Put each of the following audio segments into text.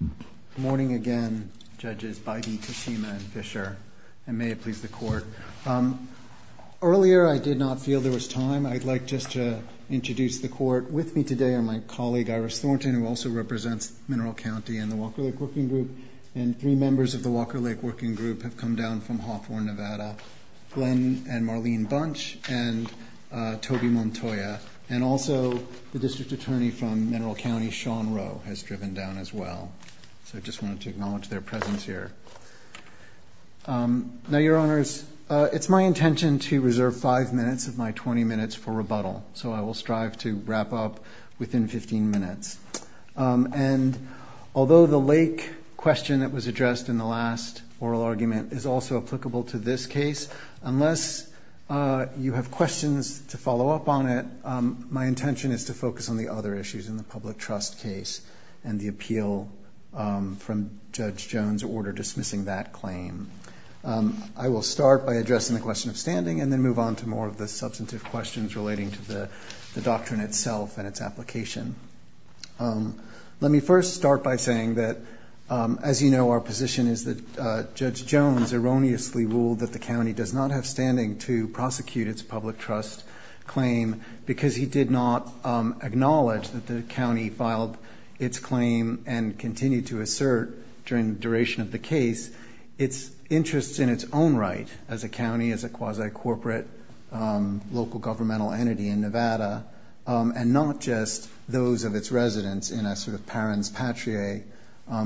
Good morning again, Judges Biden, Toshima, and Fisher, and may it please the Court. Earlier, I did not feel there was time. I'd like just to introduce the Court. With me today are my colleague Iris Thornton, who also represents Mineral County and the Walker Lake Working Group, and three members of the Walker Lake Working Group have come down from Hawthorne, Nevada, Glenn and Marlene Bunch and Toby Montoya, and also the District Attorney from Mineral County, Sean Rowe, has driven down as well. So I just wanted to acknowledge their presence here. Now, Your Honors, it's my intention to reserve five minutes of my 20 minutes for rebuttal, so I will strive to wrap up within 15 minutes. And although the lake question that was addressed in the last oral argument is also applicable to this case, unless you have questions to follow up on it, my intention is to focus on the other issues in the public trust case and the appeal from Judge Jones' order dismissing that claim. I will start by addressing the question of standing and then move on to more of the substantive questions relating to the doctrine itself and its application. Let me first start by saying that, as you know, our position is that Judge Jones erroneously ruled that the county does not have standing to prosecute its public trust claim because he did not acknowledge that the county filed its claim and continued to assert during the duration of the case its interests in its own right as a county, as a quasi-corporate local governmental entity in Nevada, and not just those of its residents in a sort of parens patriae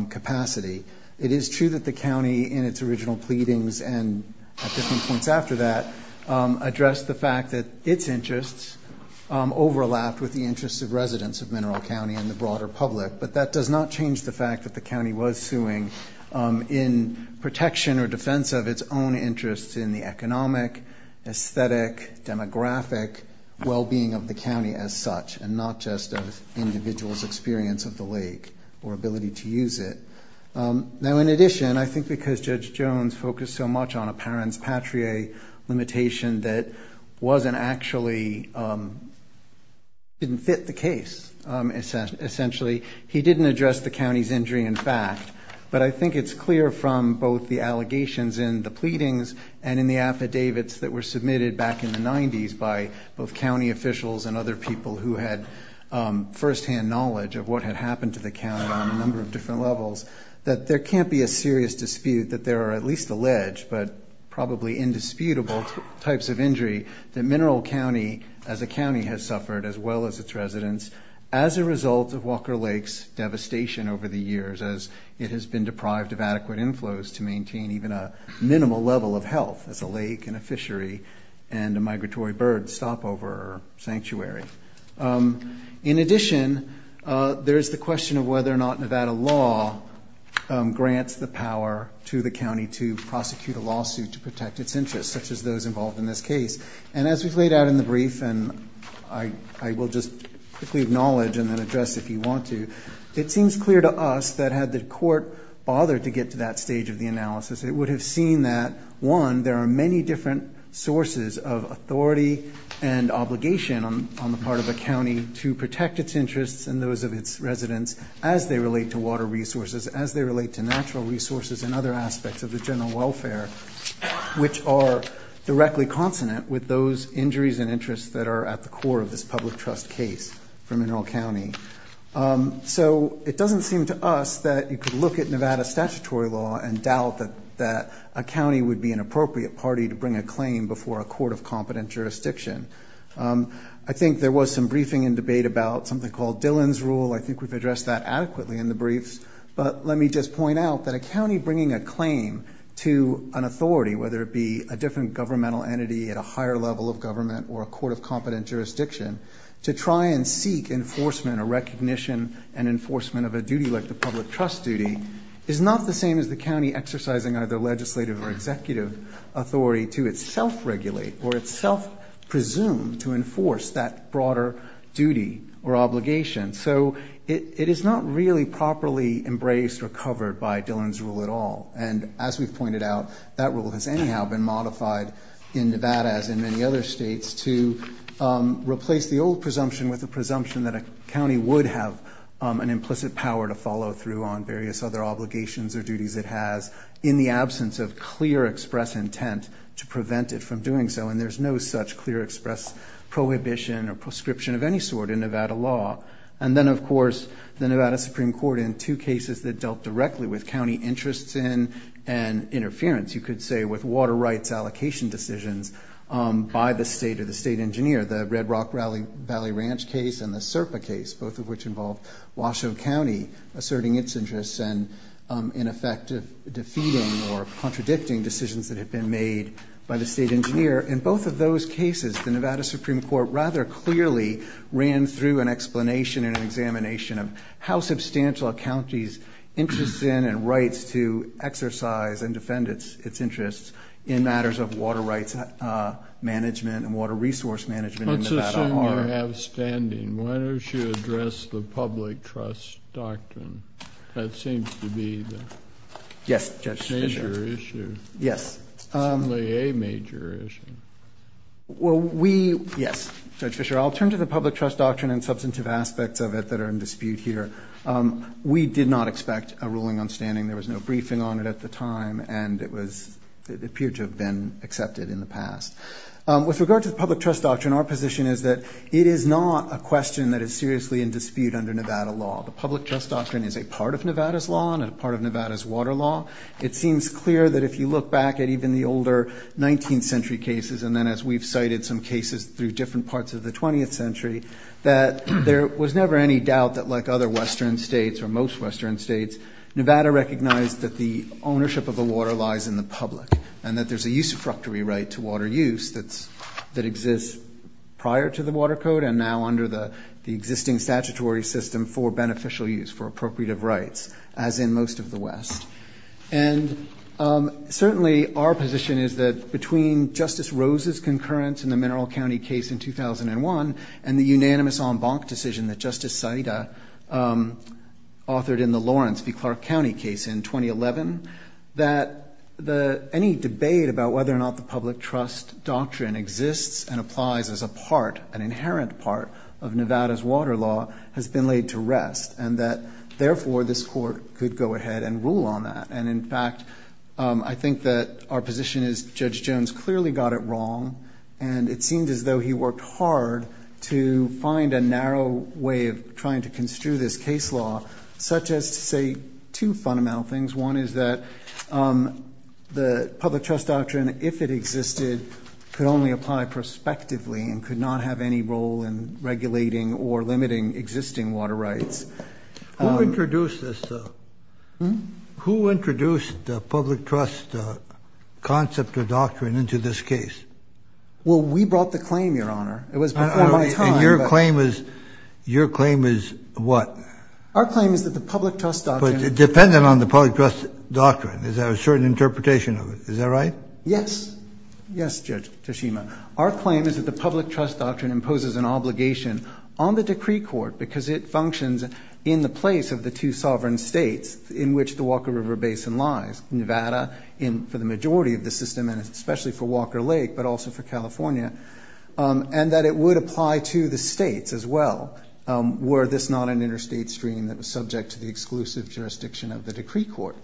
capacity. It is true that the county, in its original pleadings and at different points after that, addressed the fact that its interests overlapped with the interests of residents of Mineral County and the broader public, but that does not change the fact that the county was suing in protection or defense of its own interests in the economic, aesthetic, demographic well-being of the county as such, and not just an individual's experience of the lake or ability to use it. Now, in addition, I think because Judge Jones focused so much on a parents patriae limitation that wasn't actually, didn't fit the case essentially, he didn't address the county's injury in fact, but I think it's clear from both the allegations in the pleadings and in the affidavits that were submitted back in the 90s by both county officials and other people who had firsthand knowledge of what had happened to the county on a number of different levels that there can't be a serious dispute that there are at least alleged, but probably indisputable, types of injury that Mineral County as a county has suffered as well as its residents as a result of Walker Lake's devastation over the years as it has been deprived of adequate inflows to maintain even a minimal level of health as a lake and a fishery and a migratory bird stopover or sanctuary. In addition, there is the question of whether or not Nevada law grants the power to the county to prosecute a lawsuit to protect its interests such as those involved in this case, and as we've laid out in the brief and I will just quickly acknowledge and then address if you want to, it seems clear to us that had the court bothered to get to that stage of the analysis, it would have seen that one, there are many different sources of authority and obligation on the part of the county to protect its interests and those of its residents as they relate to water resources, as they relate to natural resources and other aspects of the general welfare, which are directly consonant with those injuries and interests that are at the core of this public trust case for Mineral County. So it doesn't seem to us that you could look at Nevada statutory law and doubt that a county would be an appropriate party to bring a claim before a court of competent jurisdiction. I think there was some briefing and debate about something called Dillon's Rule. I think we've addressed that adequately in the briefs, but let me just point out that a county bringing a claim to an authority, whether it be a different governmental entity at a higher level of government or a court of competent jurisdiction, to try and seek enforcement or recognition and enforcement of a duty like the public trust duty, is not the same as the county exercising either legislative or executive authority to itself regulate or itself presume to enforce that broader duty or obligation. So it is not really properly embraced or covered by Dillon's Rule at all. And as we've pointed out, that rule has anyhow been modified in Nevada, as in many other states, to replace the old presumption with a presumption that a county would have an implicit power to follow through on various other obligations or duties it has in the absence of clear express intent to prevent it from doing so. And there's no such clear express prohibition or proscription of any sort in Nevada law. And then, of course, the Nevada Supreme Court in two cases that dealt directly with county interests and interference, you could say with water rights allocation decisions by the state or the state engineer, the Red Rock Valley Ranch case and the Serpa case, both of which involved Washoe County asserting its interests and in effect defeating or contradicting decisions that had been made by the state engineer. In both of those cases, the Nevada Supreme Court rather clearly ran through an explanation and an examination of how substantial a county's interest in and rights to exercise and defend its interests in matters of water rights management and water resource management in Nevada are. Let's assume you have standing. Why don't you address the public trust doctrine? That seems to be the major issue. Yes. Certainly a major issue. Well, we, yes. Judge Fischer, I'll turn to the public trust doctrine and substantive aspects of it that are in dispute here. We did not expect a ruling on standing. There was no briefing on it at the time, and it appeared to have been accepted in the past. With regard to the public trust doctrine, our position is that it is not a question that is seriously in dispute under Nevada law. The public trust doctrine is a part of Nevada's law and a part of Nevada's water law. It seems clear that if you look back at even the older 19th century cases and then as we've cited some cases through different parts of the 20th century, that there was never any doubt that like other Western states or most Western states, Nevada recognized that the ownership of the water lies in the public and that there's a usufructory right to water use that exists prior to the water code and now under the existing statutory system for beneficial use, for appropriative rights, as in most of the West. And certainly our position is that between Justice Rose's concurrence in the Mineral County case in 2001 and the unanimous en banc decision that Justice Saita authored in the Lawrence v. Clark County case in 2011, that any debate about whether or not the public trust doctrine exists and applies as a part, an inherent part, of Nevada's water law has been laid to rest and that therefore this court could go ahead and rule on that. And in fact, I think that our position is Judge Jones clearly got it wrong and it seems as though he worked hard to find a narrow way of trying to construe this case law, such as to say two fundamental things. One is that the public trust doctrine, if it existed, could only apply prospectively and could not have any role in regulating or limiting existing water rights. Who introduced this? Who introduced the public trust concept or doctrine into this case? Well, we brought the claim, Your Honor. It was before my time. And your claim is what? Our claim is that the public trust doctrine Dependent on the public trust doctrine. Is there a certain interpretation of it? Is that right? Yes. Yes, Judge Toshima. Our claim is that the public trust doctrine imposes an obligation on the decree court because it functions in the place of the two sovereign states in which the Walker River Basin lies, Nevada for the majority of the system and especially for Walker Lake but also for California, and that it would apply to the states as well were this not an interstate stream that was subject to the exclusive jurisdiction of the decree court.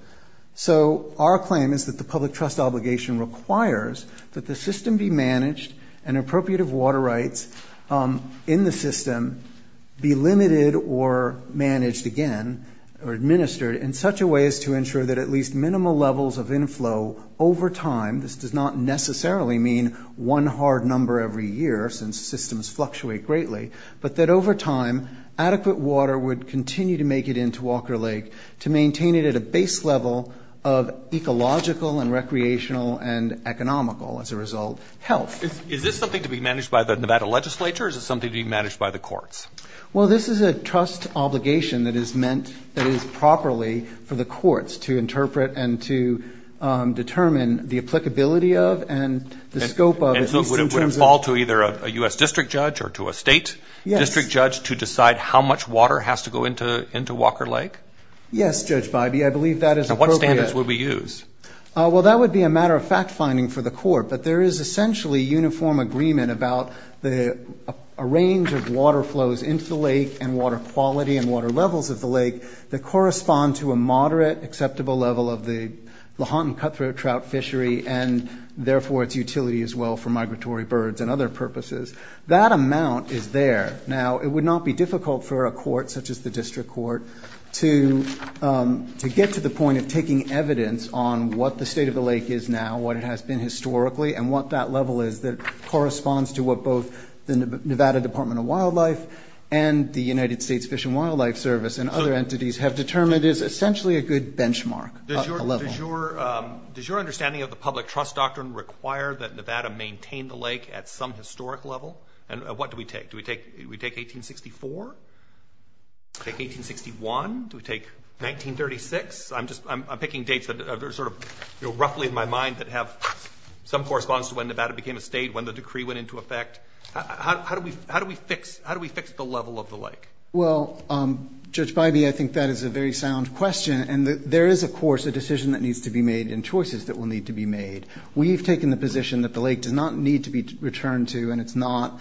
So our claim is that the public trust obligation requires that the system be managed and appropriative water rights in the system be limited or managed again or administered in such a way as to ensure that at least minimal levels of inflow over time, this does not necessarily mean one hard number every year since systems fluctuate greatly, but that over time adequate water would continue to make it into Walker Lake to maintain it at a base level of ecological and recreational and economical, as a result, health. Is this something to be managed by the Nevada legislature or is it something to be managed by the courts? Well, this is a trust obligation that is meant that is properly for the courts to interpret and to determine the applicability of and the scope of at least in terms of And so would it fall to either a U.S. district judge or to a state district judge to decide how much water has to go into Walker Lake? Yes, Judge Bybee, I believe that is appropriate. And what standards would we use? Well, that would be a matter of fact finding for the court, but there is essentially uniform agreement about a range of water flows into the lake and water quality and water levels of the lake that correspond to a moderate, acceptable level of the Lahontan cutthroat trout fishery and therefore its utility as well for migratory birds and other purposes. That amount is there. Now, it would not be difficult for a court such as the district court to get to the point of taking evidence on what the state of the lake is now, what it has been historically, and what that level is that corresponds to what both the Nevada Department of Wildlife and the United States Fish and Wildlife Service and other entities have determined is essentially a good benchmark. Does your understanding of the public trust doctrine require that Nevada maintain the lake at some historic level? And what do we take? Do we take 1864? Do we take 1861? Do we take 1936? I'm picking dates that are sort of roughly in my mind that have some correspondence to when Nevada became a state, when the decree went into effect. How do we fix the level of the lake? Well, Judge Bybee, I think that is a very sound question, and there is, of course, a decision that needs to be made and choices that will need to be made. We've taken the position that the lake does not need to be returned to and it's not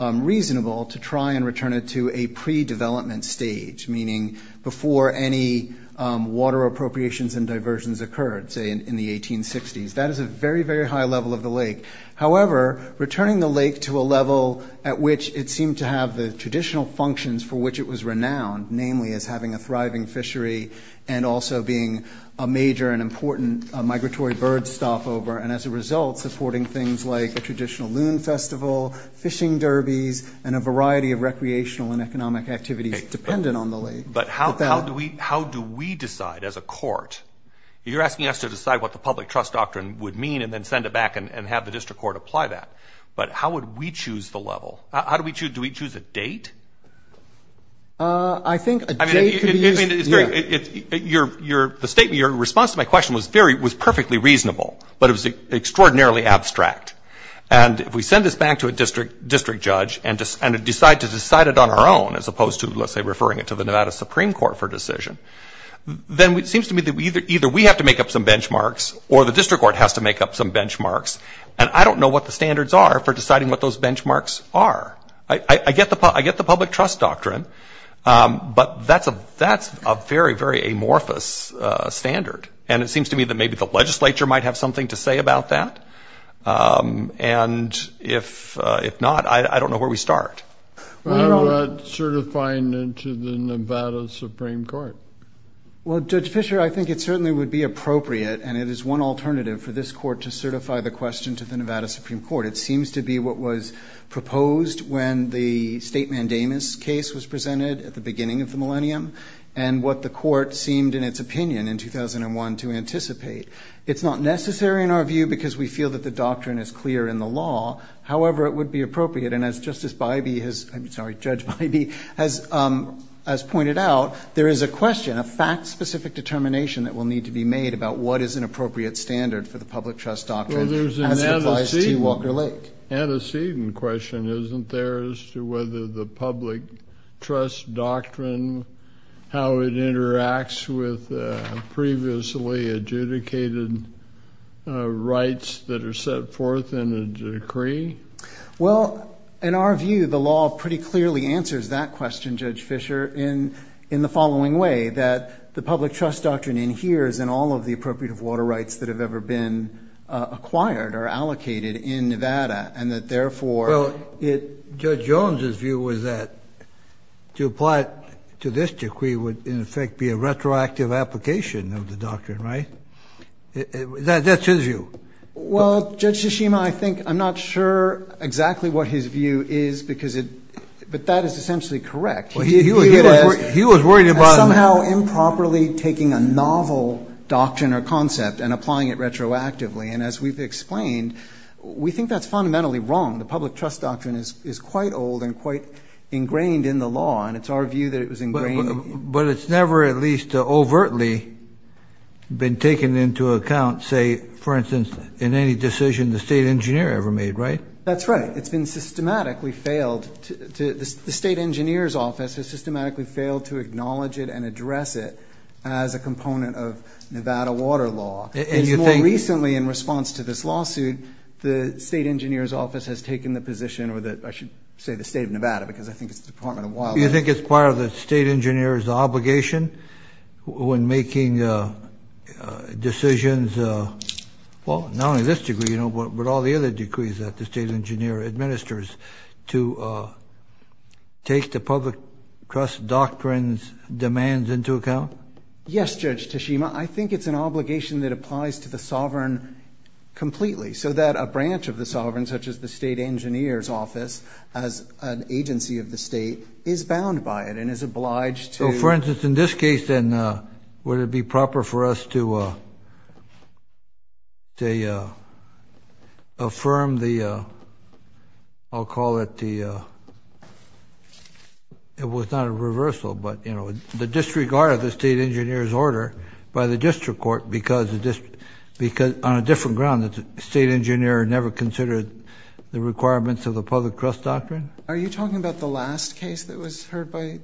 reasonable to try and return it to a pre-development stage, meaning before any water appropriations and diversions occurred, say, in the 1860s. That is a very, very high level of the lake. However, returning the lake to a level at which it seemed to have the traditional functions for which it was renowned, namely as having a thriving fishery and also being a major and important migratory bird stopover, and as a result supporting things like a traditional loon festival, fishing derbies, and a variety of recreational and economic activities dependent on the lake. But how do we decide as a court? You're asking us to decide what the public trust doctrine would mean and then send it back and have the district court apply that. But how would we choose the level? Do we choose a date? I think a date could be used. Your response to my question was perfectly reasonable, but it was extraordinarily abstract. And if we send this back to a district judge and decide to decide it on our own as opposed to, let's say, referring it to the Nevada Supreme Court for decision, then it seems to me that either we have to make up some benchmarks or the district court has to make up some benchmarks, and I don't know what the standards are for deciding what those benchmarks are. I get the public trust doctrine, but that's a very, very amorphous standard, and it seems to me that maybe the legislature might have something to say about that. And if not, I don't know where we start. How about certifying it to the Nevada Supreme Court? Well, Judge Fischer, I think it certainly would be appropriate, and it is one alternative for this court to certify the question to the Nevada Supreme Court. It seems to be what was proposed when the state mandamus case was presented at the beginning of the millennium and what the court seemed in its opinion in 2001 to anticipate. It's not necessary in our view because we feel that the doctrine is clear in the law. However, it would be appropriate, and as Justice Bybee has, I'm sorry, Judge Bybee, has pointed out, there is a question, a fact-specific determination that will need to be made about what is an appropriate standard for the public trust doctrine. Well, there's an antecedent question, isn't there, as to whether the public trust doctrine, how it interacts with previously adjudicated rights that are set forth in a decree? Well, in our view, the law pretty clearly answers that question, Judge Fischer, in the following way, that the public trust doctrine adheres in all of the appropriate water rights that have ever been acquired or allocated in Nevada, and that, therefore, Well, Judge Jones' view was that to apply it to this decree would, in effect, be a retroactive application of the doctrine, right? That's his view. Well, Judge Tshishima, I think I'm not sure exactly what his view is, but that is essentially correct. He was worried about somehow improperly taking a novel doctrine or concept and applying it retroactively, and as we've explained, we think that's fundamentally wrong. The public trust doctrine is quite old and quite ingrained in the law, and it's our view that it was ingrained. But it's never at least overtly been taken into account, say, for instance, in any decision the state engineer ever made, right? That's right. It's been systematically failed. The state engineer's office has systematically failed to acknowledge it and address it as a component of Nevada water law. It's more recently, in response to this lawsuit, the state engineer's office has taken the position, or I should say the state of Nevada because I think it's the Department of Wildlife. You think it's part of the state engineer's obligation when making decisions, well, not only this decree, you know, but all the other decrees that the state engineer administers to take the public trust doctrine's demands into account? Yes, Judge Tashima. I think it's an obligation that applies to the sovereign completely so that a branch of the sovereign, such as the state engineer's office, as an agency of the state, is bound by it and is obliged to. So, for instance, in this case, then, would it be proper for us to affirm the, I'll call it the, it was not a reversal, but, you know, the disregard of the state engineer's order by the district court because on a different ground, the state engineer never considered the requirements of the public trust doctrine? Are you talking about the last case that was heard by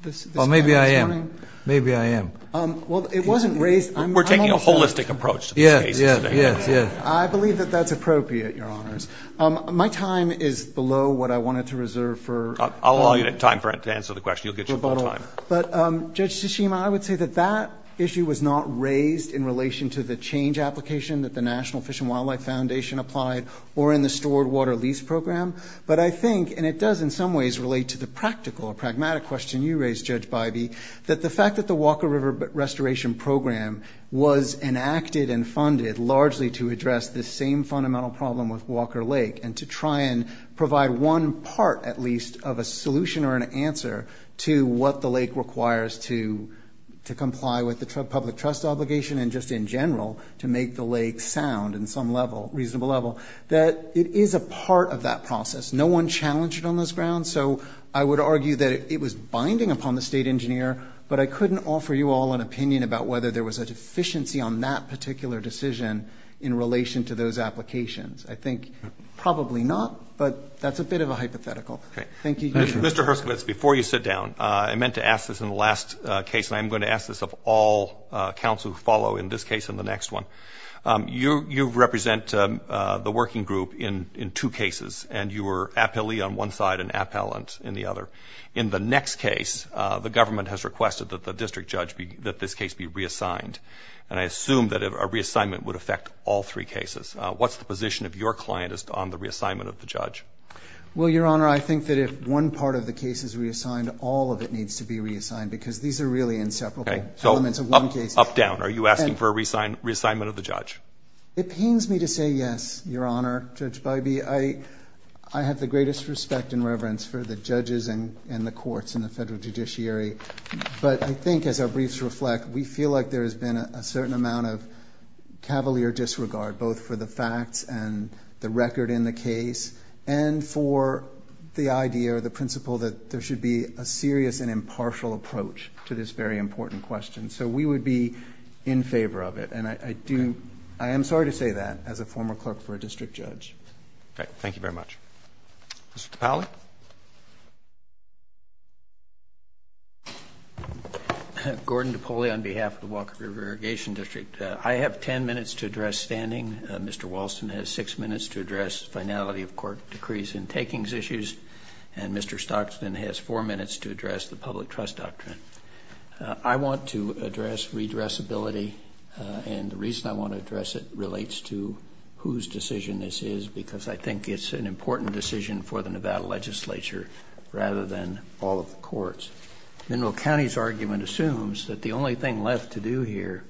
this panel this morning? Well, maybe I am. Maybe I am. Well, it wasn't raised. We're taking a holistic approach to these cases today. Yes, yes, yes, yes. I believe that that's appropriate, Your Honors. My time is below what I wanted to reserve for. I'll allow you time to answer the question. You'll get your full time. But, Judge Tashima, I would say that that issue was not raised in relation to the change application that the National Fish and Wildlife Foundation applied or in the stored water lease program, but I think, and it does in some ways relate to the practical or pragmatic question you raised, Judge Bybee, that the fact that the Walker River Restoration Program was enacted and funded largely to address this same fundamental problem with Walker Lake and to try and provide one part, at least, of a solution or an answer to what the lake requires to comply with the public trust obligation and just in general to make the lake sound in some level, reasonable level, that it is a part of that process. No one challenged it on this ground, so I would argue that it was binding upon the state engineer, but I couldn't offer you all an opinion about whether there was a deficiency on that particular decision in relation to those applications. I think probably not, but that's a bit of a hypothetical. Thank you. Mr. Herskovitz, before you sit down, I meant to ask this in the last case, and I am going to ask this of all counsel who follow in this case and the next one. You represent the working group in two cases, and you were appellee on one side and appellant in the other. In the next case, the government has requested that the district judge, that this case be reassigned, and I assume that a reassignment would affect all three cases. What's the position of your client on the reassignment of the judge? Well, Your Honor, I think that if one part of the case is reassigned, all of it needs to be reassigned because these are really inseparable elements of one case. Up, down, are you asking for a reassignment of the judge? It pains me to say yes, Your Honor, Judge Bybee. I have the greatest respect and reverence for the judges and the courts and the Federal Judiciary, but I think as our briefs reflect, we feel like there has been a certain amount of cavalier disregard, both for the facts and the record in the case, and for the idea or the principle that there should be a serious and impartial approach to this very important question. So we would be in favor of it. And I do – I am sorry to say that as a former clerk for a district judge. All right. Thank you very much. Mr. Topoli. Gordon Topoli on behalf of the Walker River Irrigation District. I have 10 minutes to address standing. Mr. Walston has 6 minutes to address finality of court decrees and takings issues, and Mr. Stockson has 4 minutes to address the public trust doctrine. I want to address redressability, and the reason I want to address it relates to whose decision this is because I think it's an important decision for the Nevada legislature rather than all of the courts. Mineral County's argument assumes that the only thing left to do here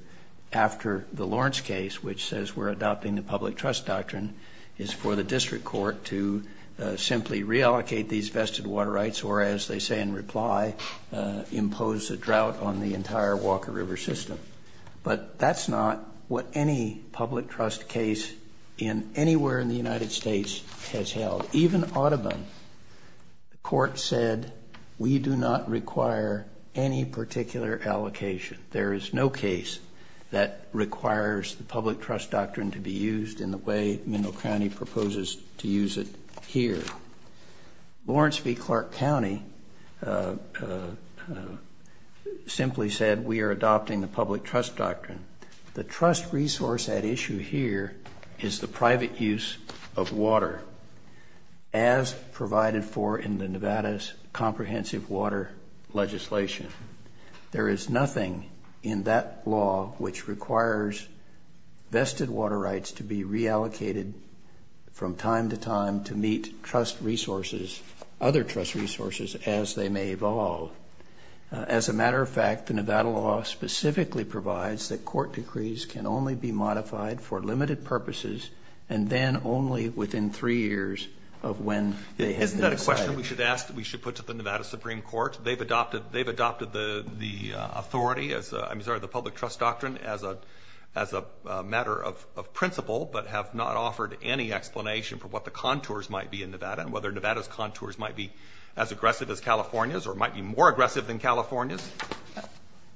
after the Lawrence case, which says we're adopting the public trust doctrine, is for the district court to simply reallocate these vested water rights, or as they say in reply, impose a drought on the entire Walker River system. But that's not what any public trust case in anywhere in the United States has held. Even Audubon, the court said we do not require any particular allocation. There is no case that requires the public trust doctrine to be used in the way Mineral County proposes to use it here. Lawrence v. Clark County simply said we are adopting the public trust doctrine. The trust resource at issue here is the private use of water, as provided for in the Nevada's comprehensive water legislation. There is nothing in that law which requires vested water rights to be reallocated from time to time to meet other trust resources as they may evolve. As a matter of fact, the Nevada law specifically provides that court decrees can only be modified for limited purposes and then only within three years of when they have been decided. Isn't that a question we should put to the Nevada Supreme Court? They've adopted the authority, I'm sorry, the public trust doctrine as a matter of principle, but have not offered any explanation for what the contours might be in Nevada and whether Nevada's contours might be as aggressive as California's or might be more aggressive than California's.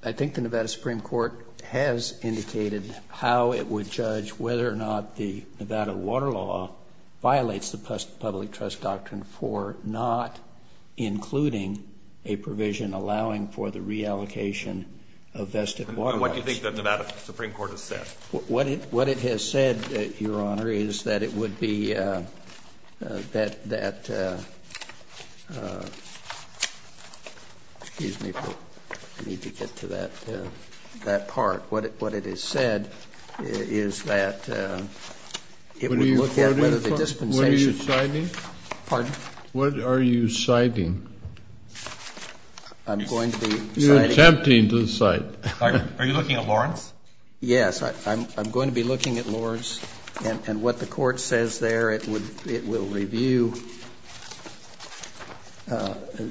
I think the Nevada Supreme Court has indicated how it would judge whether or not the Nevada water law violates the public trust doctrine for not including a provision allowing for the reallocation of vested water rights. What do you think the Nevada Supreme Court has said? What it has said, Your Honor, is that it would be that, excuse me, I need to get to that part. What it has said is that it would look at whether the dispensation. What are you citing? Pardon? What are you citing? I'm going to be citing. You're attempting to cite. Are you looking at Lawrence? Yes. I'm going to be looking at Lawrence and what the court says there. It will review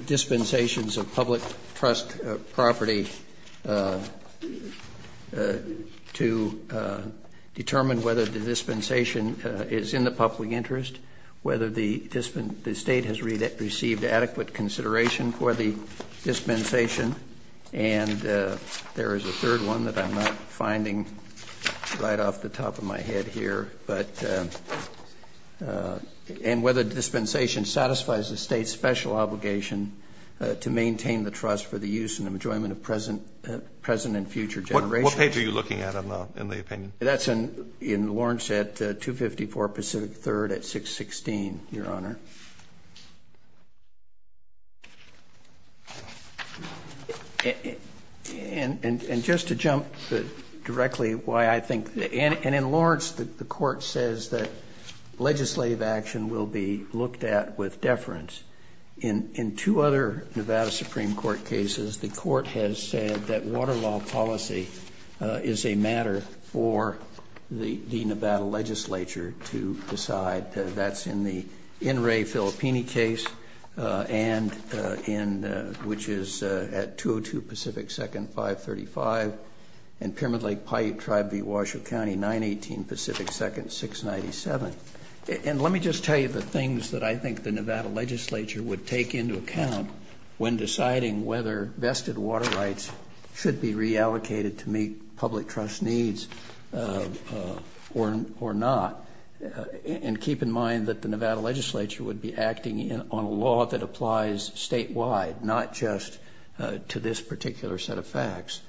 dispensations of public trust property to determine whether the dispensation is in the public interest, whether the state has received adequate consideration for the dispensation. And there is a third one that I'm not finding right off the top of my head here. But and whether dispensation satisfies the state's special obligation to maintain the trust for the use and enjoyment of present and future generations. What page are you looking at in the opinion? That's in Lawrence at 254 Pacific 3rd at 616, Your Honor. And just to jump directly why I think and in Lawrence, the court says that legislative action will be looked at with deference in two other Nevada Supreme Court cases. The court has said that water law policy is a matter for the Nevada legislature to decide. That's in the in Ray Filippini case. And in which is at two or two Pacific second five thirty five. And Pyramid Lake Pipe tried the Washoe County nine eighteen Pacific second six ninety seven. And let me just tell you the things that I think the Nevada legislature would take into account when deciding whether vested water rights should be reallocated to meet public trust needs or not. And keep in mind that the Nevada legislature would be acting on a law that applies statewide, not just to this particular set of facts.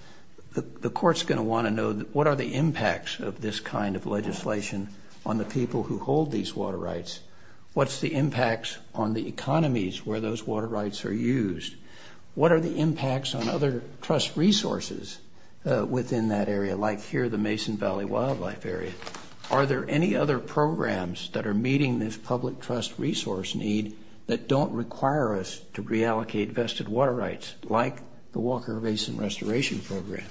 The court's going to want to know what are the impacts of this kind of legislation on the people who hold these water rights? What's the impacts on the economies where those water rights are used? What are the impacts on other trust resources within that area? Like here, the Mason Valley Wildlife Area. Are there any other programs that are meeting this public trust resource need that don't require us to reallocate vested water rights like the Walker Basin Restoration Program?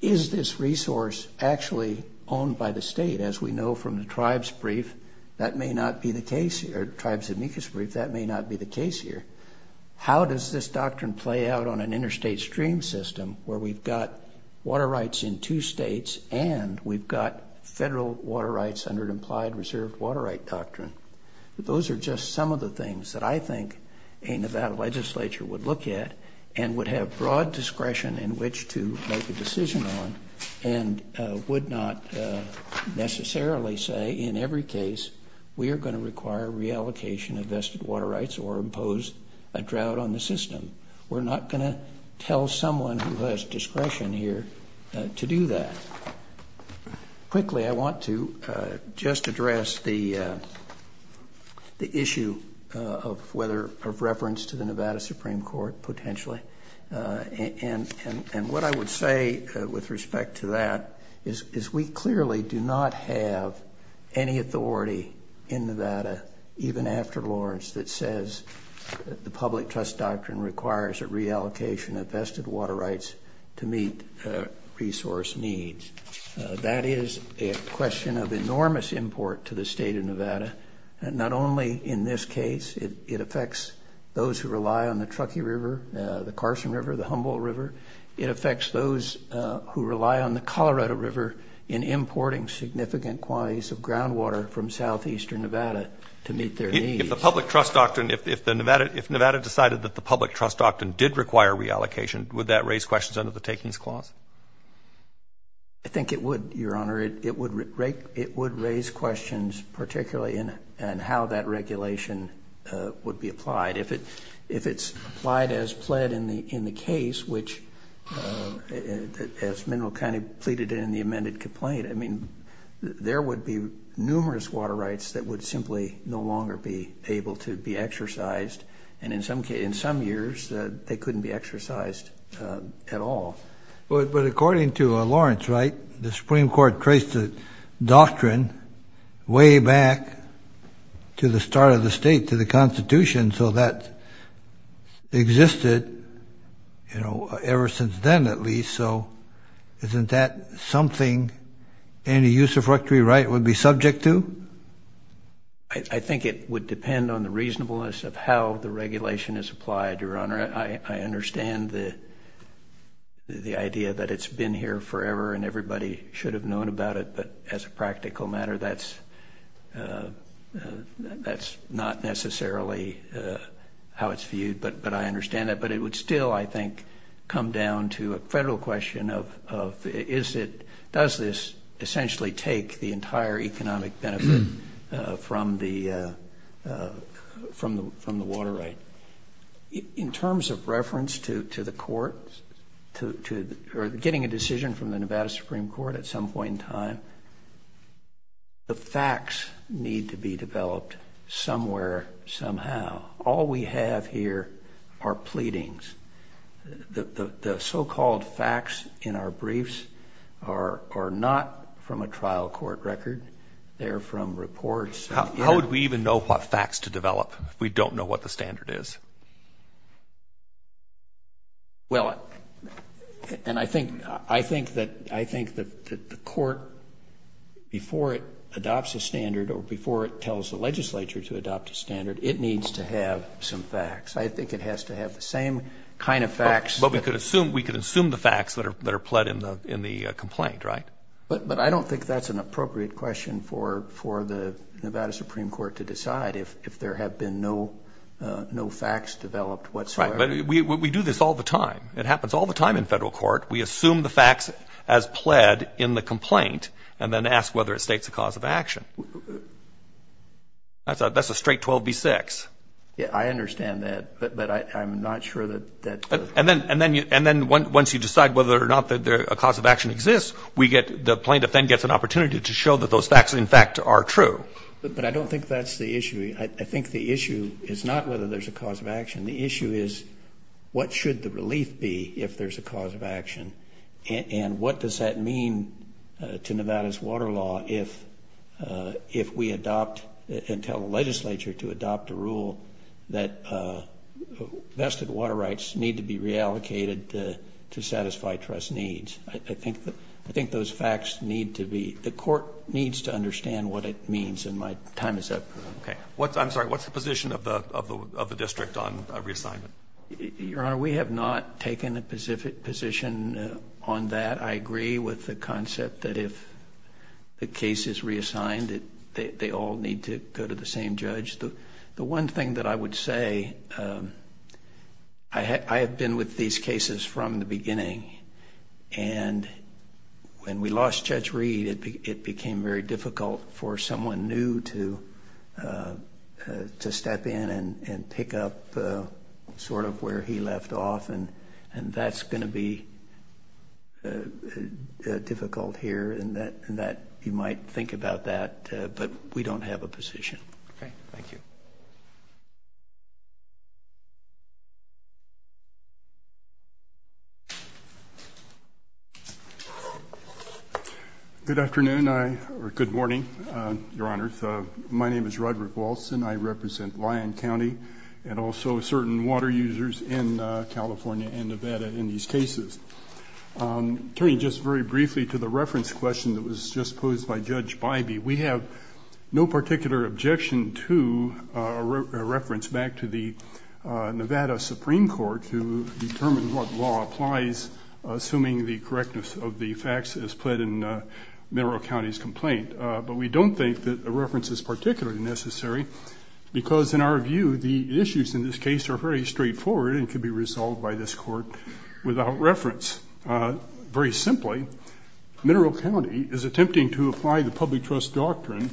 Is this resource actually owned by the state? As we know from the tribes brief, that may not be the case here. Tribes amicus brief, that may not be the case here. How does this doctrine play out on an interstate stream system where we've got water rights in two states and we've got federal water rights under an implied reserved water right doctrine? Those are just some of the things that I think a Nevada legislature would look at and would have broad discretion in which to make a decision on and would not necessarily say in every case we are going to require reallocation of vested water rights or impose a drought on the system. We're not going to tell someone who has discretion here to do that. Quickly, I want to just address the issue of reference to the Nevada Supreme Court, potentially. What I would say with respect to that is we clearly do not have any authority in Nevada, even after Lawrence, that says the public trust doctrine requires a reallocation of vested water rights to meet resource needs. That is a question of enormous import to the state of Nevada. Not only in this case, it affects those who rely on the Truckee River, the Carson River, the Humboldt River. It affects those who rely on the Colorado River in importing significant quantities of groundwater from southeastern Nevada to meet their needs. If the public trust doctrine, if Nevada decided that the public trust doctrine did require reallocation, would that raise questions under the takings clause? I think it would, Your Honor. It would raise questions, particularly in how that regulation would be applied. If it's applied as pled in the case, which as Mineral County pleaded in the amended complaint, I mean, there would be numerous water rights that would simply no longer be able to be exercised. And in some years, they couldn't be exercised at all. But according to Lawrence, right, the Supreme Court traced the doctrine way back to the start of the state, to the Constitution. So that existed, you know, ever since then, at least. So isn't that something any use of Truckee right would be subject to? I think it would depend on the reasonableness of how the regulation is applied, Your Honor. I understand the idea that it's been here forever and everybody should have known about it. But as a practical matter, that's not necessarily how it's viewed. But I understand that. But it would still, I think, come down to a federal question of is it, does this essentially take the entire economic benefit from the water right? In terms of reference to the court or getting a decision from the Nevada Supreme Court at some point in time, the facts need to be developed somewhere, somehow. All we have here are pleadings. The so-called facts in our briefs are not from a trial court record. They're from reports. How would we even know what facts to develop if we don't know what the standard is? Well, and I think that the court, before it adopts a standard or before it tells the legislature to adopt a standard, it needs to have some facts. I think it has to have the same kind of facts. But we could assume the facts that are pled in the complaint, right? But I don't think that's an appropriate question for the Nevada Supreme Court to decide if there have been no facts developed whatsoever. Right. But we do this all the time. It happens all the time in federal court. We assume the facts as pled in the complaint and then ask whether it states a cause of action. That's a straight 12 v. 6. Yeah, I understand that. But I'm not sure that that's the case. And then once you decide whether or not a cause of action exists, the plaintiff then gets an opportunity to show that those facts, in fact, are true. But I don't think that's the issue. I think the issue is not whether there's a cause of action. The issue is what should the relief be if there's a cause of action, and what does that mean to Nevada's water law if we adopt and tell the legislature to adopt a rule that vested water rights need to be reallocated to satisfy trust needs. I think those facts need to be the court needs to understand what it means. And my time is up. Okay. I'm sorry. What's the position of the district on reassignment? Your Honor, we have not taken a position on that. I agree with the concept that if the case is reassigned, they all need to go to the same judge. The one thing that I would say, I have been with these cases from the beginning. And when we lost Judge Reed, it became very difficult for someone new to step in and pick up sort of where he left off. And that's going to be difficult here. And you might think about that. But we don't have a position. Okay. Thank you. Good afternoon, or good morning, Your Honor. My name is Roderick Walson. I represent Lyon County and also certain water users in California and Nevada in these cases. Turning just very briefly to the reference question that was just posed by Judge Bybee, we have no particular objection to a reference back to the Nevada Supreme Court to determine what law applies, assuming the correctness of the facts as put in Monroe County's complaint. But we don't think that a reference is particularly necessary because, in our view, the issues in this case are very straightforward and can be resolved by this court without reference. Very simply, Monroe County is attempting to apply the public trust doctrine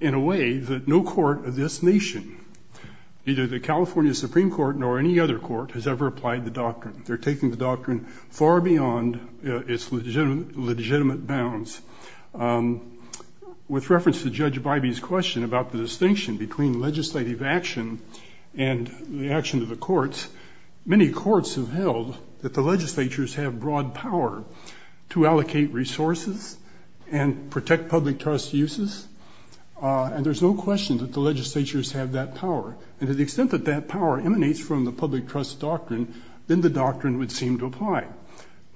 in a way that no court of this nation, either the California Supreme Court nor any other court, has ever applied the doctrine. They're taking the doctrine far beyond its legitimate bounds. With reference to Judge Bybee's question about the distinction between legislative action and the action of the courts, many courts have held that the legislatures have broad power to allocate resources and protect public trust uses, and there's no question that the legislatures have that power. And to the extent that that power emanates from the public trust doctrine, then the doctrine would seem to apply.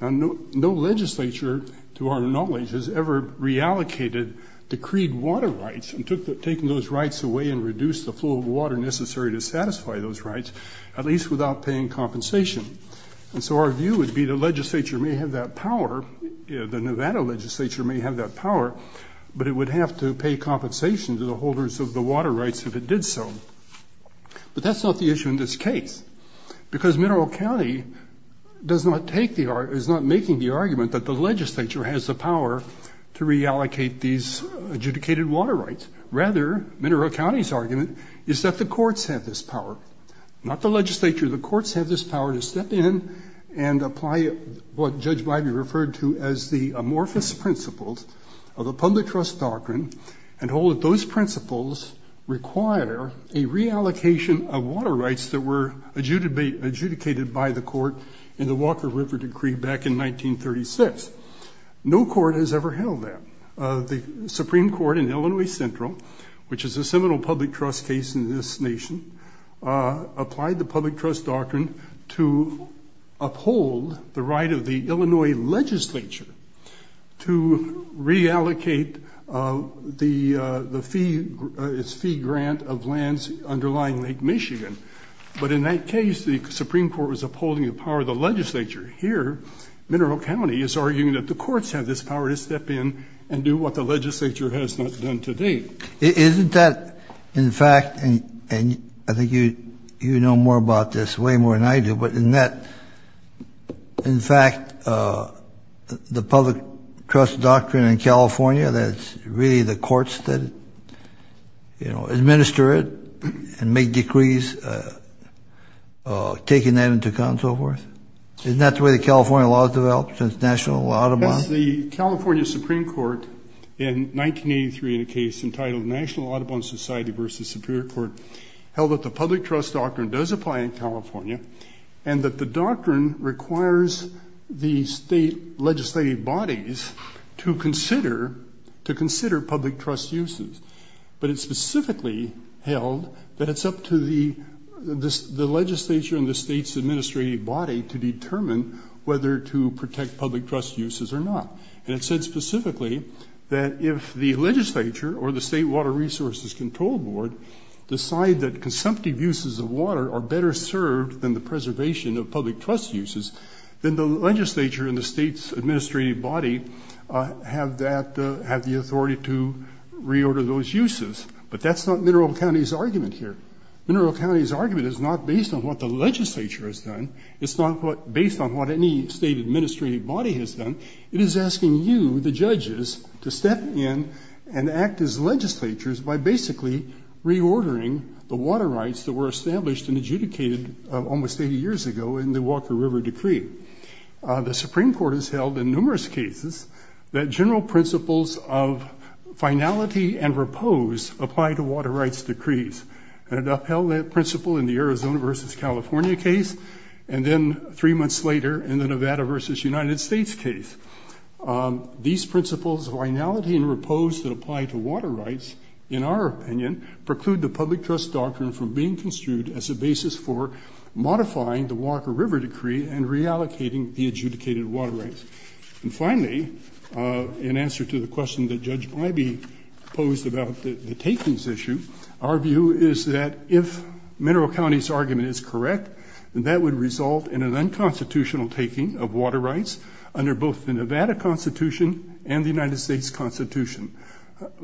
Now, no legislature, to our knowledge, has ever reallocated decreed water rights and taken those rights away and reduced the flow of water necessary to satisfy those rights, at least without paying compensation. And so our view would be the legislature may have that power, the Nevada legislature may have that power, but it would have to pay compensation to the holders of the water rights if it did so. But that's not the issue in this case, because Mineral County does not take the argument, is not making the argument that the legislature has the power to reallocate these adjudicated water rights. Rather, Mineral County's argument is that the courts have this power, not the legislature. The courts have this power to step in and apply what Judge Bybee referred to as the amorphous principles of the public trust doctrine and hold that those principles require a reallocation of water rights that were adjudicated by the court in the Walker River Decree back in 1936. No court has ever held that. The Supreme Court in Illinois Central, which is a seminal public trust case in this nation, applied the public trust doctrine to uphold the right of the Illinois legislature to reallocate its fee grant of lands underlying Lake Michigan. But in that case, the Supreme Court was upholding the power of the legislature. Here, Mineral County is arguing that the courts have this power to step in and do what the legislature has not done to date. Isn't that, in fact, and I think you know more about this, way more than I do, but isn't that, in fact, the public trust doctrine in California, that it's really the courts that administer it and make decrees taking that into account and so forth? Isn't that the way the California law has developed since National and Audubon? The California Supreme Court in 1983 in a case entitled National Audubon Society v. Superior Court held that the public trust doctrine does apply in California and that the doctrine requires the state legislative bodies to consider public trust uses. But it specifically held that it's up to the legislature and the state's administrative body to determine whether to protect public trust uses or not. And it said specifically that if the legislature or the State Water Resources Control Board decide that consumptive uses of water are better served than the preservation of public trust uses, then the legislature and the state's administrative body have the authority to reorder those uses. But that's not Mineral County's argument here. Mineral County's argument is not based on what the legislature has done. It's not based on what any state administrative body has done. It is asking you, the judges, to step in and act as legislatures by basically reordering the water rights that were established and adjudicated almost 80 years ago in the Walker River Decree. The Supreme Court has held in numerous cases that general principles of finality and repose apply to water rights decrees. And it upheld that principle in the Arizona v. California case, and then three months later in the Nevada v. United States case. These principles of finality and repose that apply to water rights, in our opinion, preclude the public trust doctrine from being construed as a basis for modifying the Walker River Decree and reallocating the adjudicated water rights. And finally, in answer to the question that Judge Ivey posed about the takings issue, our view is that if Mineral County's argument is correct, then that would result in an unconstitutional taking of water rights under both the Nevada Constitution and the United States Constitution.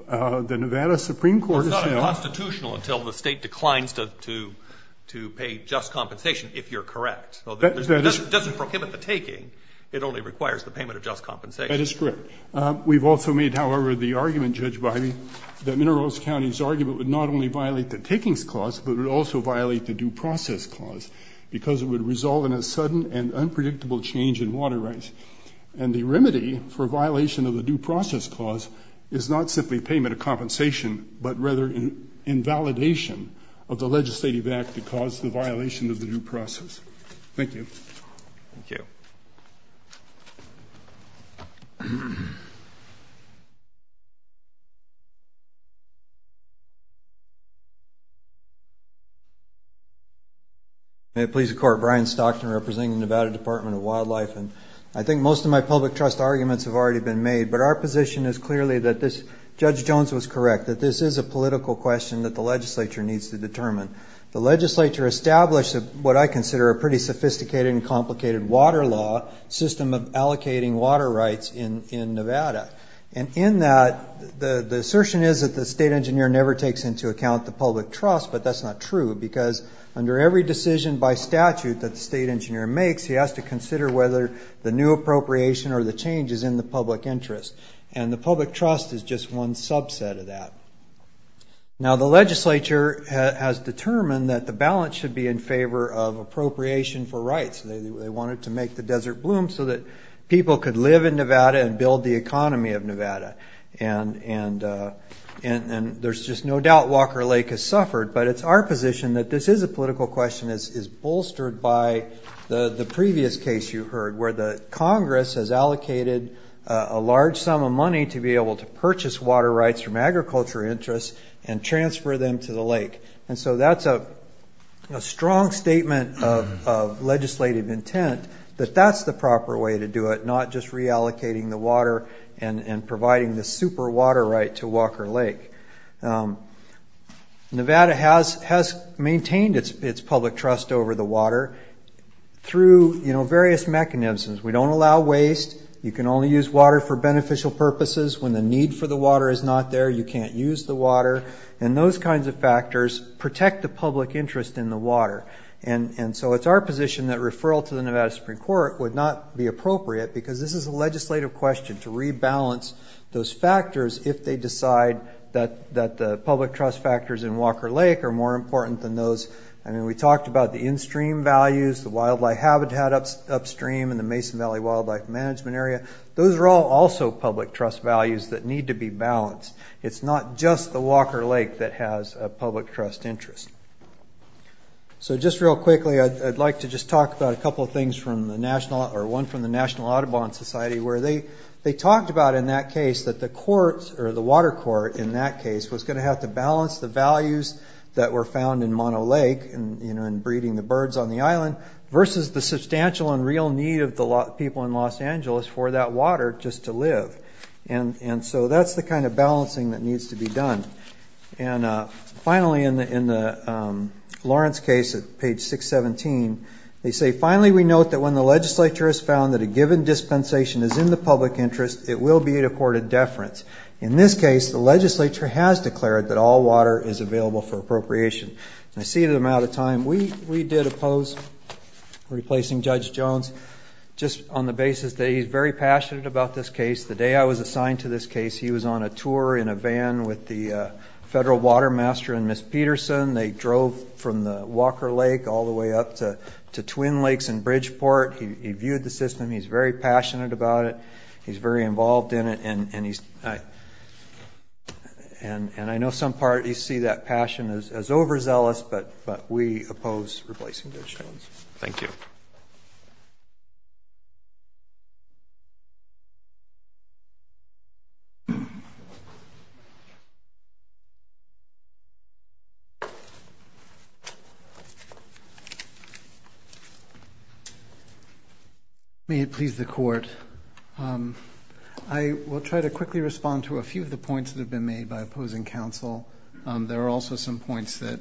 The Nevada Supreme Court has held... It's not unconstitutional until the state declines to pay just compensation, if you're correct. It doesn't prohibit the taking. It only requires the payment of just compensation. That is correct. We've also made, however, the argument, Judge Ivey, that Mineral County's argument would not only violate the takings clause, but it would also violate the due process clause, because it would result in a sudden and unpredictable change in water rights. And the remedy for violation of the due process clause is not simply payment of compensation, but rather invalidation of the legislative act that caused the violation of the due process. Thank you. Thank you. May it please the Court. Brian Stockton representing the Nevada Department of Wildlife. I think most of my public trust arguments have already been made, but our position is clearly that Judge Jones was correct, that this is a political question that the legislature needs to determine. The legislature established what I consider a pretty sophisticated and complicated water law, system of allocating water rights in Nevada. And in that, the assertion is that the state engineer never takes into account the public trust, but that's not true, because under every decision by statute that the state engineer makes, he has to consider whether the new appropriation or the change is in the public interest. And the public trust is just one subset of that. Now, the legislature has determined that the balance should be in favor of appropriation for rights. They wanted to make the desert bloom so that people could live in Nevada and build the economy of Nevada. And there's just no doubt Walker Lake has suffered, but it's our position that this is a political question that is bolstered by the previous case you heard, where the Congress has allocated a large sum of money to be able to purchase water rights from agriculture interests and transfer them to the lake. And so that's a strong statement of legislative intent that that's the proper way to do it, not just reallocating the water and providing the super water right to Walker Lake. Nevada has maintained its public trust over the water through various mechanisms. We don't allow waste. You can only use water for beneficial purposes. When the need for the water is not there, you can't use the water. And those kinds of factors protect the public interest in the water. And so it's our position that referral to the Nevada Supreme Court would not be appropriate, because this is a legislative question to rebalance those factors if they decide that the public trust factors in Walker Lake are more important than those. I mean, we talked about the in-stream values, the wildlife habitat upstream, and the Mason Valley Wildlife Management Area. Those are all also public trust values that need to be balanced. It's not just the Walker Lake that has a public trust interest. So just real quickly, I'd like to just talk about a couple of things from the National or one from the National Audubon Society where they talked about in that case that the courts or the water court in that case was going to have to balance the values that were found in Mono Lake in breeding the birds on the island versus the substantial and real need of the people in Los Angeles for that water just to live. And so that's the kind of balancing that needs to be done. And finally, in the Lawrence case at page 617, they say, Finally, we note that when the legislature has found that a given dispensation is in the public interest, it will be to court a deference. In this case, the legislature has declared that all water is available for appropriation. I see that I'm out of time. We did oppose replacing Judge Jones just on the basis that he's very passionate about this case. The day I was assigned to this case, he was on a tour in a van with the federal water master and Ms. Peterson. They drove from the Walker Lake all the way up to Twin Lakes and Bridgeport. He viewed the system. He's very passionate about it. He's very involved in it. And I know some parties see that passion as overzealous, but we oppose replacing Judge Jones. Thank you. Thank you. May it please the court. I will try to quickly respond to a few of the points that have been made by opposing counsel. There are also some points that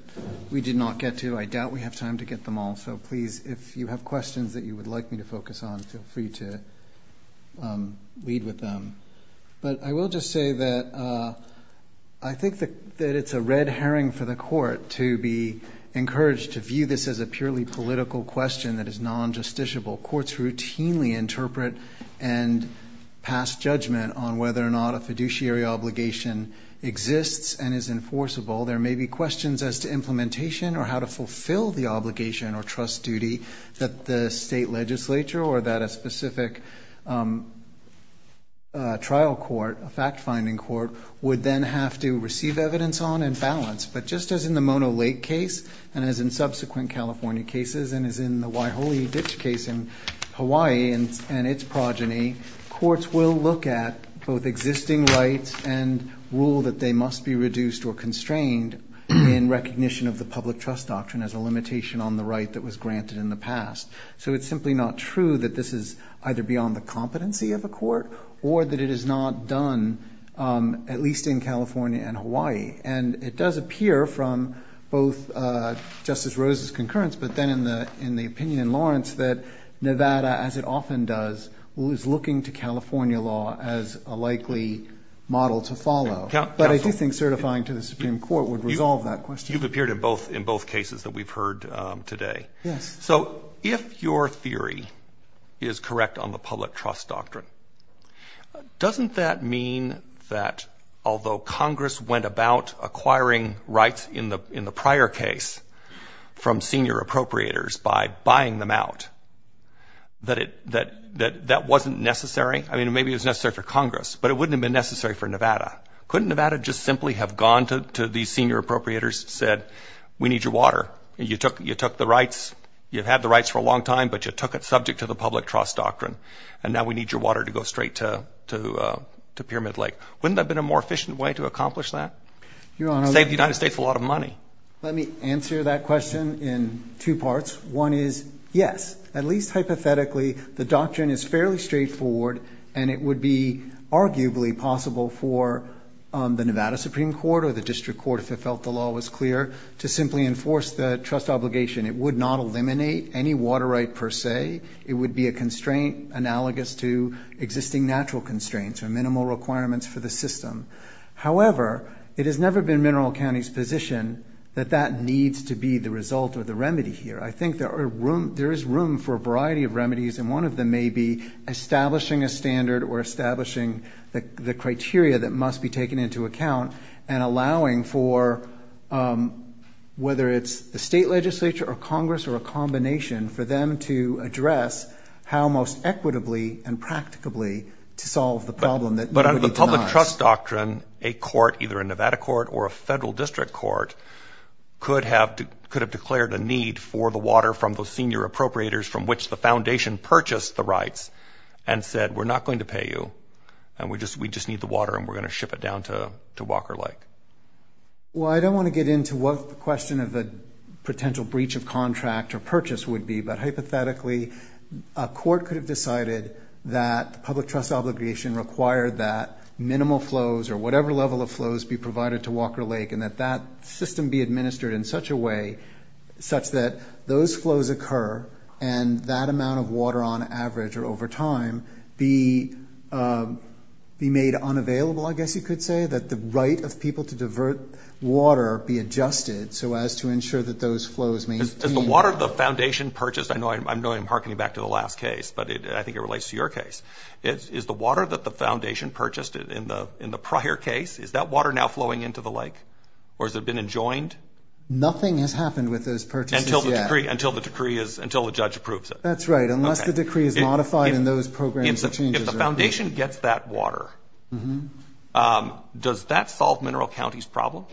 we did not get to. I doubt we have time to get them all. So please, if you have questions that you would like me to focus on, feel free to lead with them. But I will just say that I think that it's a red herring for the court to be encouraged to view this as a purely political question that is non-justiciable. Courts routinely interpret and pass judgment on whether or not a fiduciary obligation exists and is enforceable. There may be questions as to implementation or how to fulfill the obligation or trust duty that the state legislature or that a specific trial court, a fact-finding court, would then have to receive evidence on and balance. But just as in the Mono Lake case and as in subsequent California cases and as in the Waiholi Ditch case in Hawaii and its progeny, courts will look at both existing rights and rule that they must be reduced or constrained in recognition of the public trust doctrine as a limitation on the right that was granted in the past. So it's simply not true that this is either beyond the competency of a court or that it is not done, at least in California and Hawaii. And it does appear from both Justice Rose's concurrence, but then in the opinion in Lawrence, that Nevada, as it often does, is looking to California law as a likely model to follow. But I do think certifying to the Supreme Court would resolve that question. You've appeared in both cases that we've heard today. Yes. So if your theory is correct on the public trust doctrine, doesn't that mean that although Congress went about acquiring rights in the prior case from senior appropriators by buying them out, that that wasn't necessary? I mean, maybe it was necessary for Congress, but it wouldn't have been necessary for Nevada. Couldn't Nevada just simply have gone to these senior appropriators and said, we need your water? You took the rights. You've had the rights for a long time, but you took it subject to the public trust doctrine, and now we need your water to go straight to Pyramid Lake. Wouldn't that have been a more efficient way to accomplish that? It would save the United States a lot of money. Let me answer that question in two parts. One is, yes, at least hypothetically, the doctrine is fairly straightforward, and it would be arguably possible for the Nevada Supreme Court or the district court, if it felt the law was clear, to simply enforce the trust obligation. It would not eliminate any water right per se. It would be a constraint analogous to existing natural constraints or minimal requirements for the system. However, it has never been Mineral County's position that that needs to be the result or the remedy here. I think there is room for a variety of remedies, and one of them may be establishing a standard or establishing the criteria that must be taken into account and allowing for, whether it's the state legislature or Congress or a combination, for them to address how most equitably and practicably to solve the problem that nobody denies. But under the public trust doctrine, a court, either a Nevada court or a federal district court, could have declared a need for the water from the senior appropriators from which the foundation purchased the rights and said, we're not going to pay you, and we just need the water, and we're going to ship it down to Walker Lake. Well, I don't want to get into what the question of the potential breach of contract or purchase would be, but hypothetically, a court could have decided that public trust obligation required that minimal flows or whatever level of flows be provided to Walker Lake and that that system be administered in such a way, and that amount of water on average or over time be made unavailable, I guess you could say, that the right of people to divert water be adjusted so as to ensure that those flows may be. Is the water the foundation purchased? I know I'm hearkening back to the last case, but I think it relates to your case. Is the water that the foundation purchased in the prior case, is that water now flowing into the lake, or has it been enjoined? Nothing has happened with those purchases yet. Until the decree is – until the judge approves it. That's right, unless the decree is modified and those programs are changed. If the foundation gets that water, does that solve Mineral County's problem?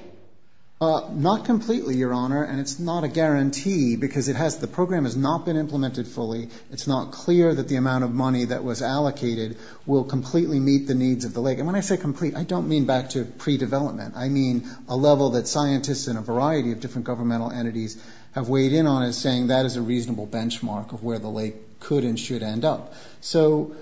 Not completely, Your Honor, and it's not a guarantee because it has – the program has not been implemented fully. It's not clear that the amount of money that was allocated will completely meet the needs of the lake. And when I say complete, I don't mean back to pre-development. I mean a level that scientists and a variety of different governmental entities have weighed in on as saying that is a reasonable benchmark of where the lake could and should end up. So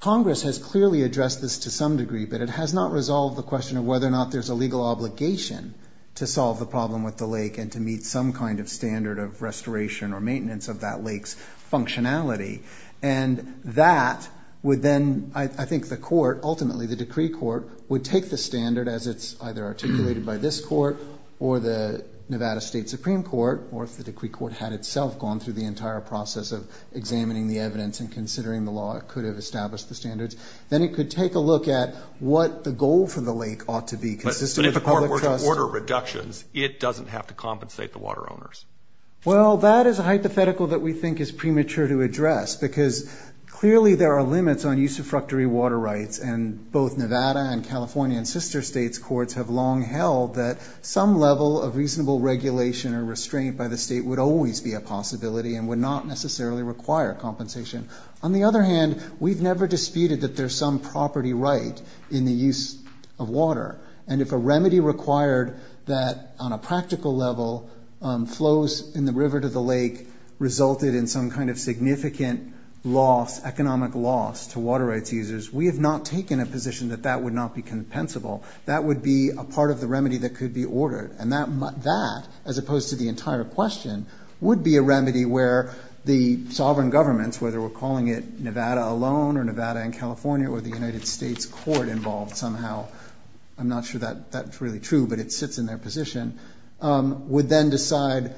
Congress has clearly addressed this to some degree, but it has not resolved the question of whether or not there's a legal obligation to solve the problem with the lake and to meet some kind of standard of restoration or maintenance of that lake's functionality. And that would then – I think the court, ultimately the decree court, would take the standard as it's either articulated by this court or the Nevada State Supreme Court, or if the decree court had itself gone through the entire process of examining the evidence and considering the law, it could have established the standards. Then it could take a look at what the goal for the lake ought to be, consistent with the public trust. But if the court were to order reductions, it doesn't have to compensate the water owners. Well, that is a hypothetical that we think is premature to address because clearly there are limits on usufructory water rights, and both Nevada and California and sister states' courts have long held that some level of reasonable regulation or restraint by the state would always be a possibility and would not necessarily require compensation. On the other hand, we've never disputed that there's some property right in the use of water. And if a remedy required that on a practical level flows in the river to the lake resulted in some kind of significant loss, economic loss, to water rights users, we have not taken a position that that would not be compensable. That would be a part of the remedy that could be ordered. And that, as opposed to the entire question, would be a remedy where the sovereign governments, whether we're calling it Nevada alone or Nevada and California or the United States court involved somehow, I'm not sure that's really true, but it sits in their position, would then decide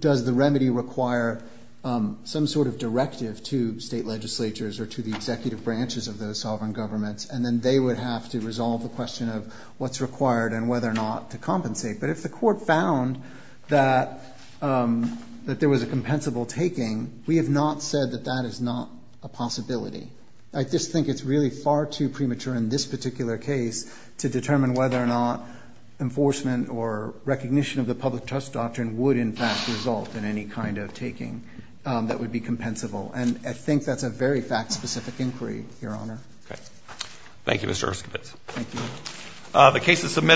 does the remedy require some sort of directive to state legislatures or to the executive branches of those sovereign governments, and then they would have to resolve the question of what's required and whether or not to compensate. But if the court found that there was a compensable taking, we have not said that that is not a possibility. I just think it's really far too premature in this particular case to determine whether or not enforcement or recognition of the public trust doctrine would in fact result in any kind of taking that would be compensable. And I think that's a very fact-specific inquiry, Your Honor. Okay. Thank you, Mr. Erskine. Thank you.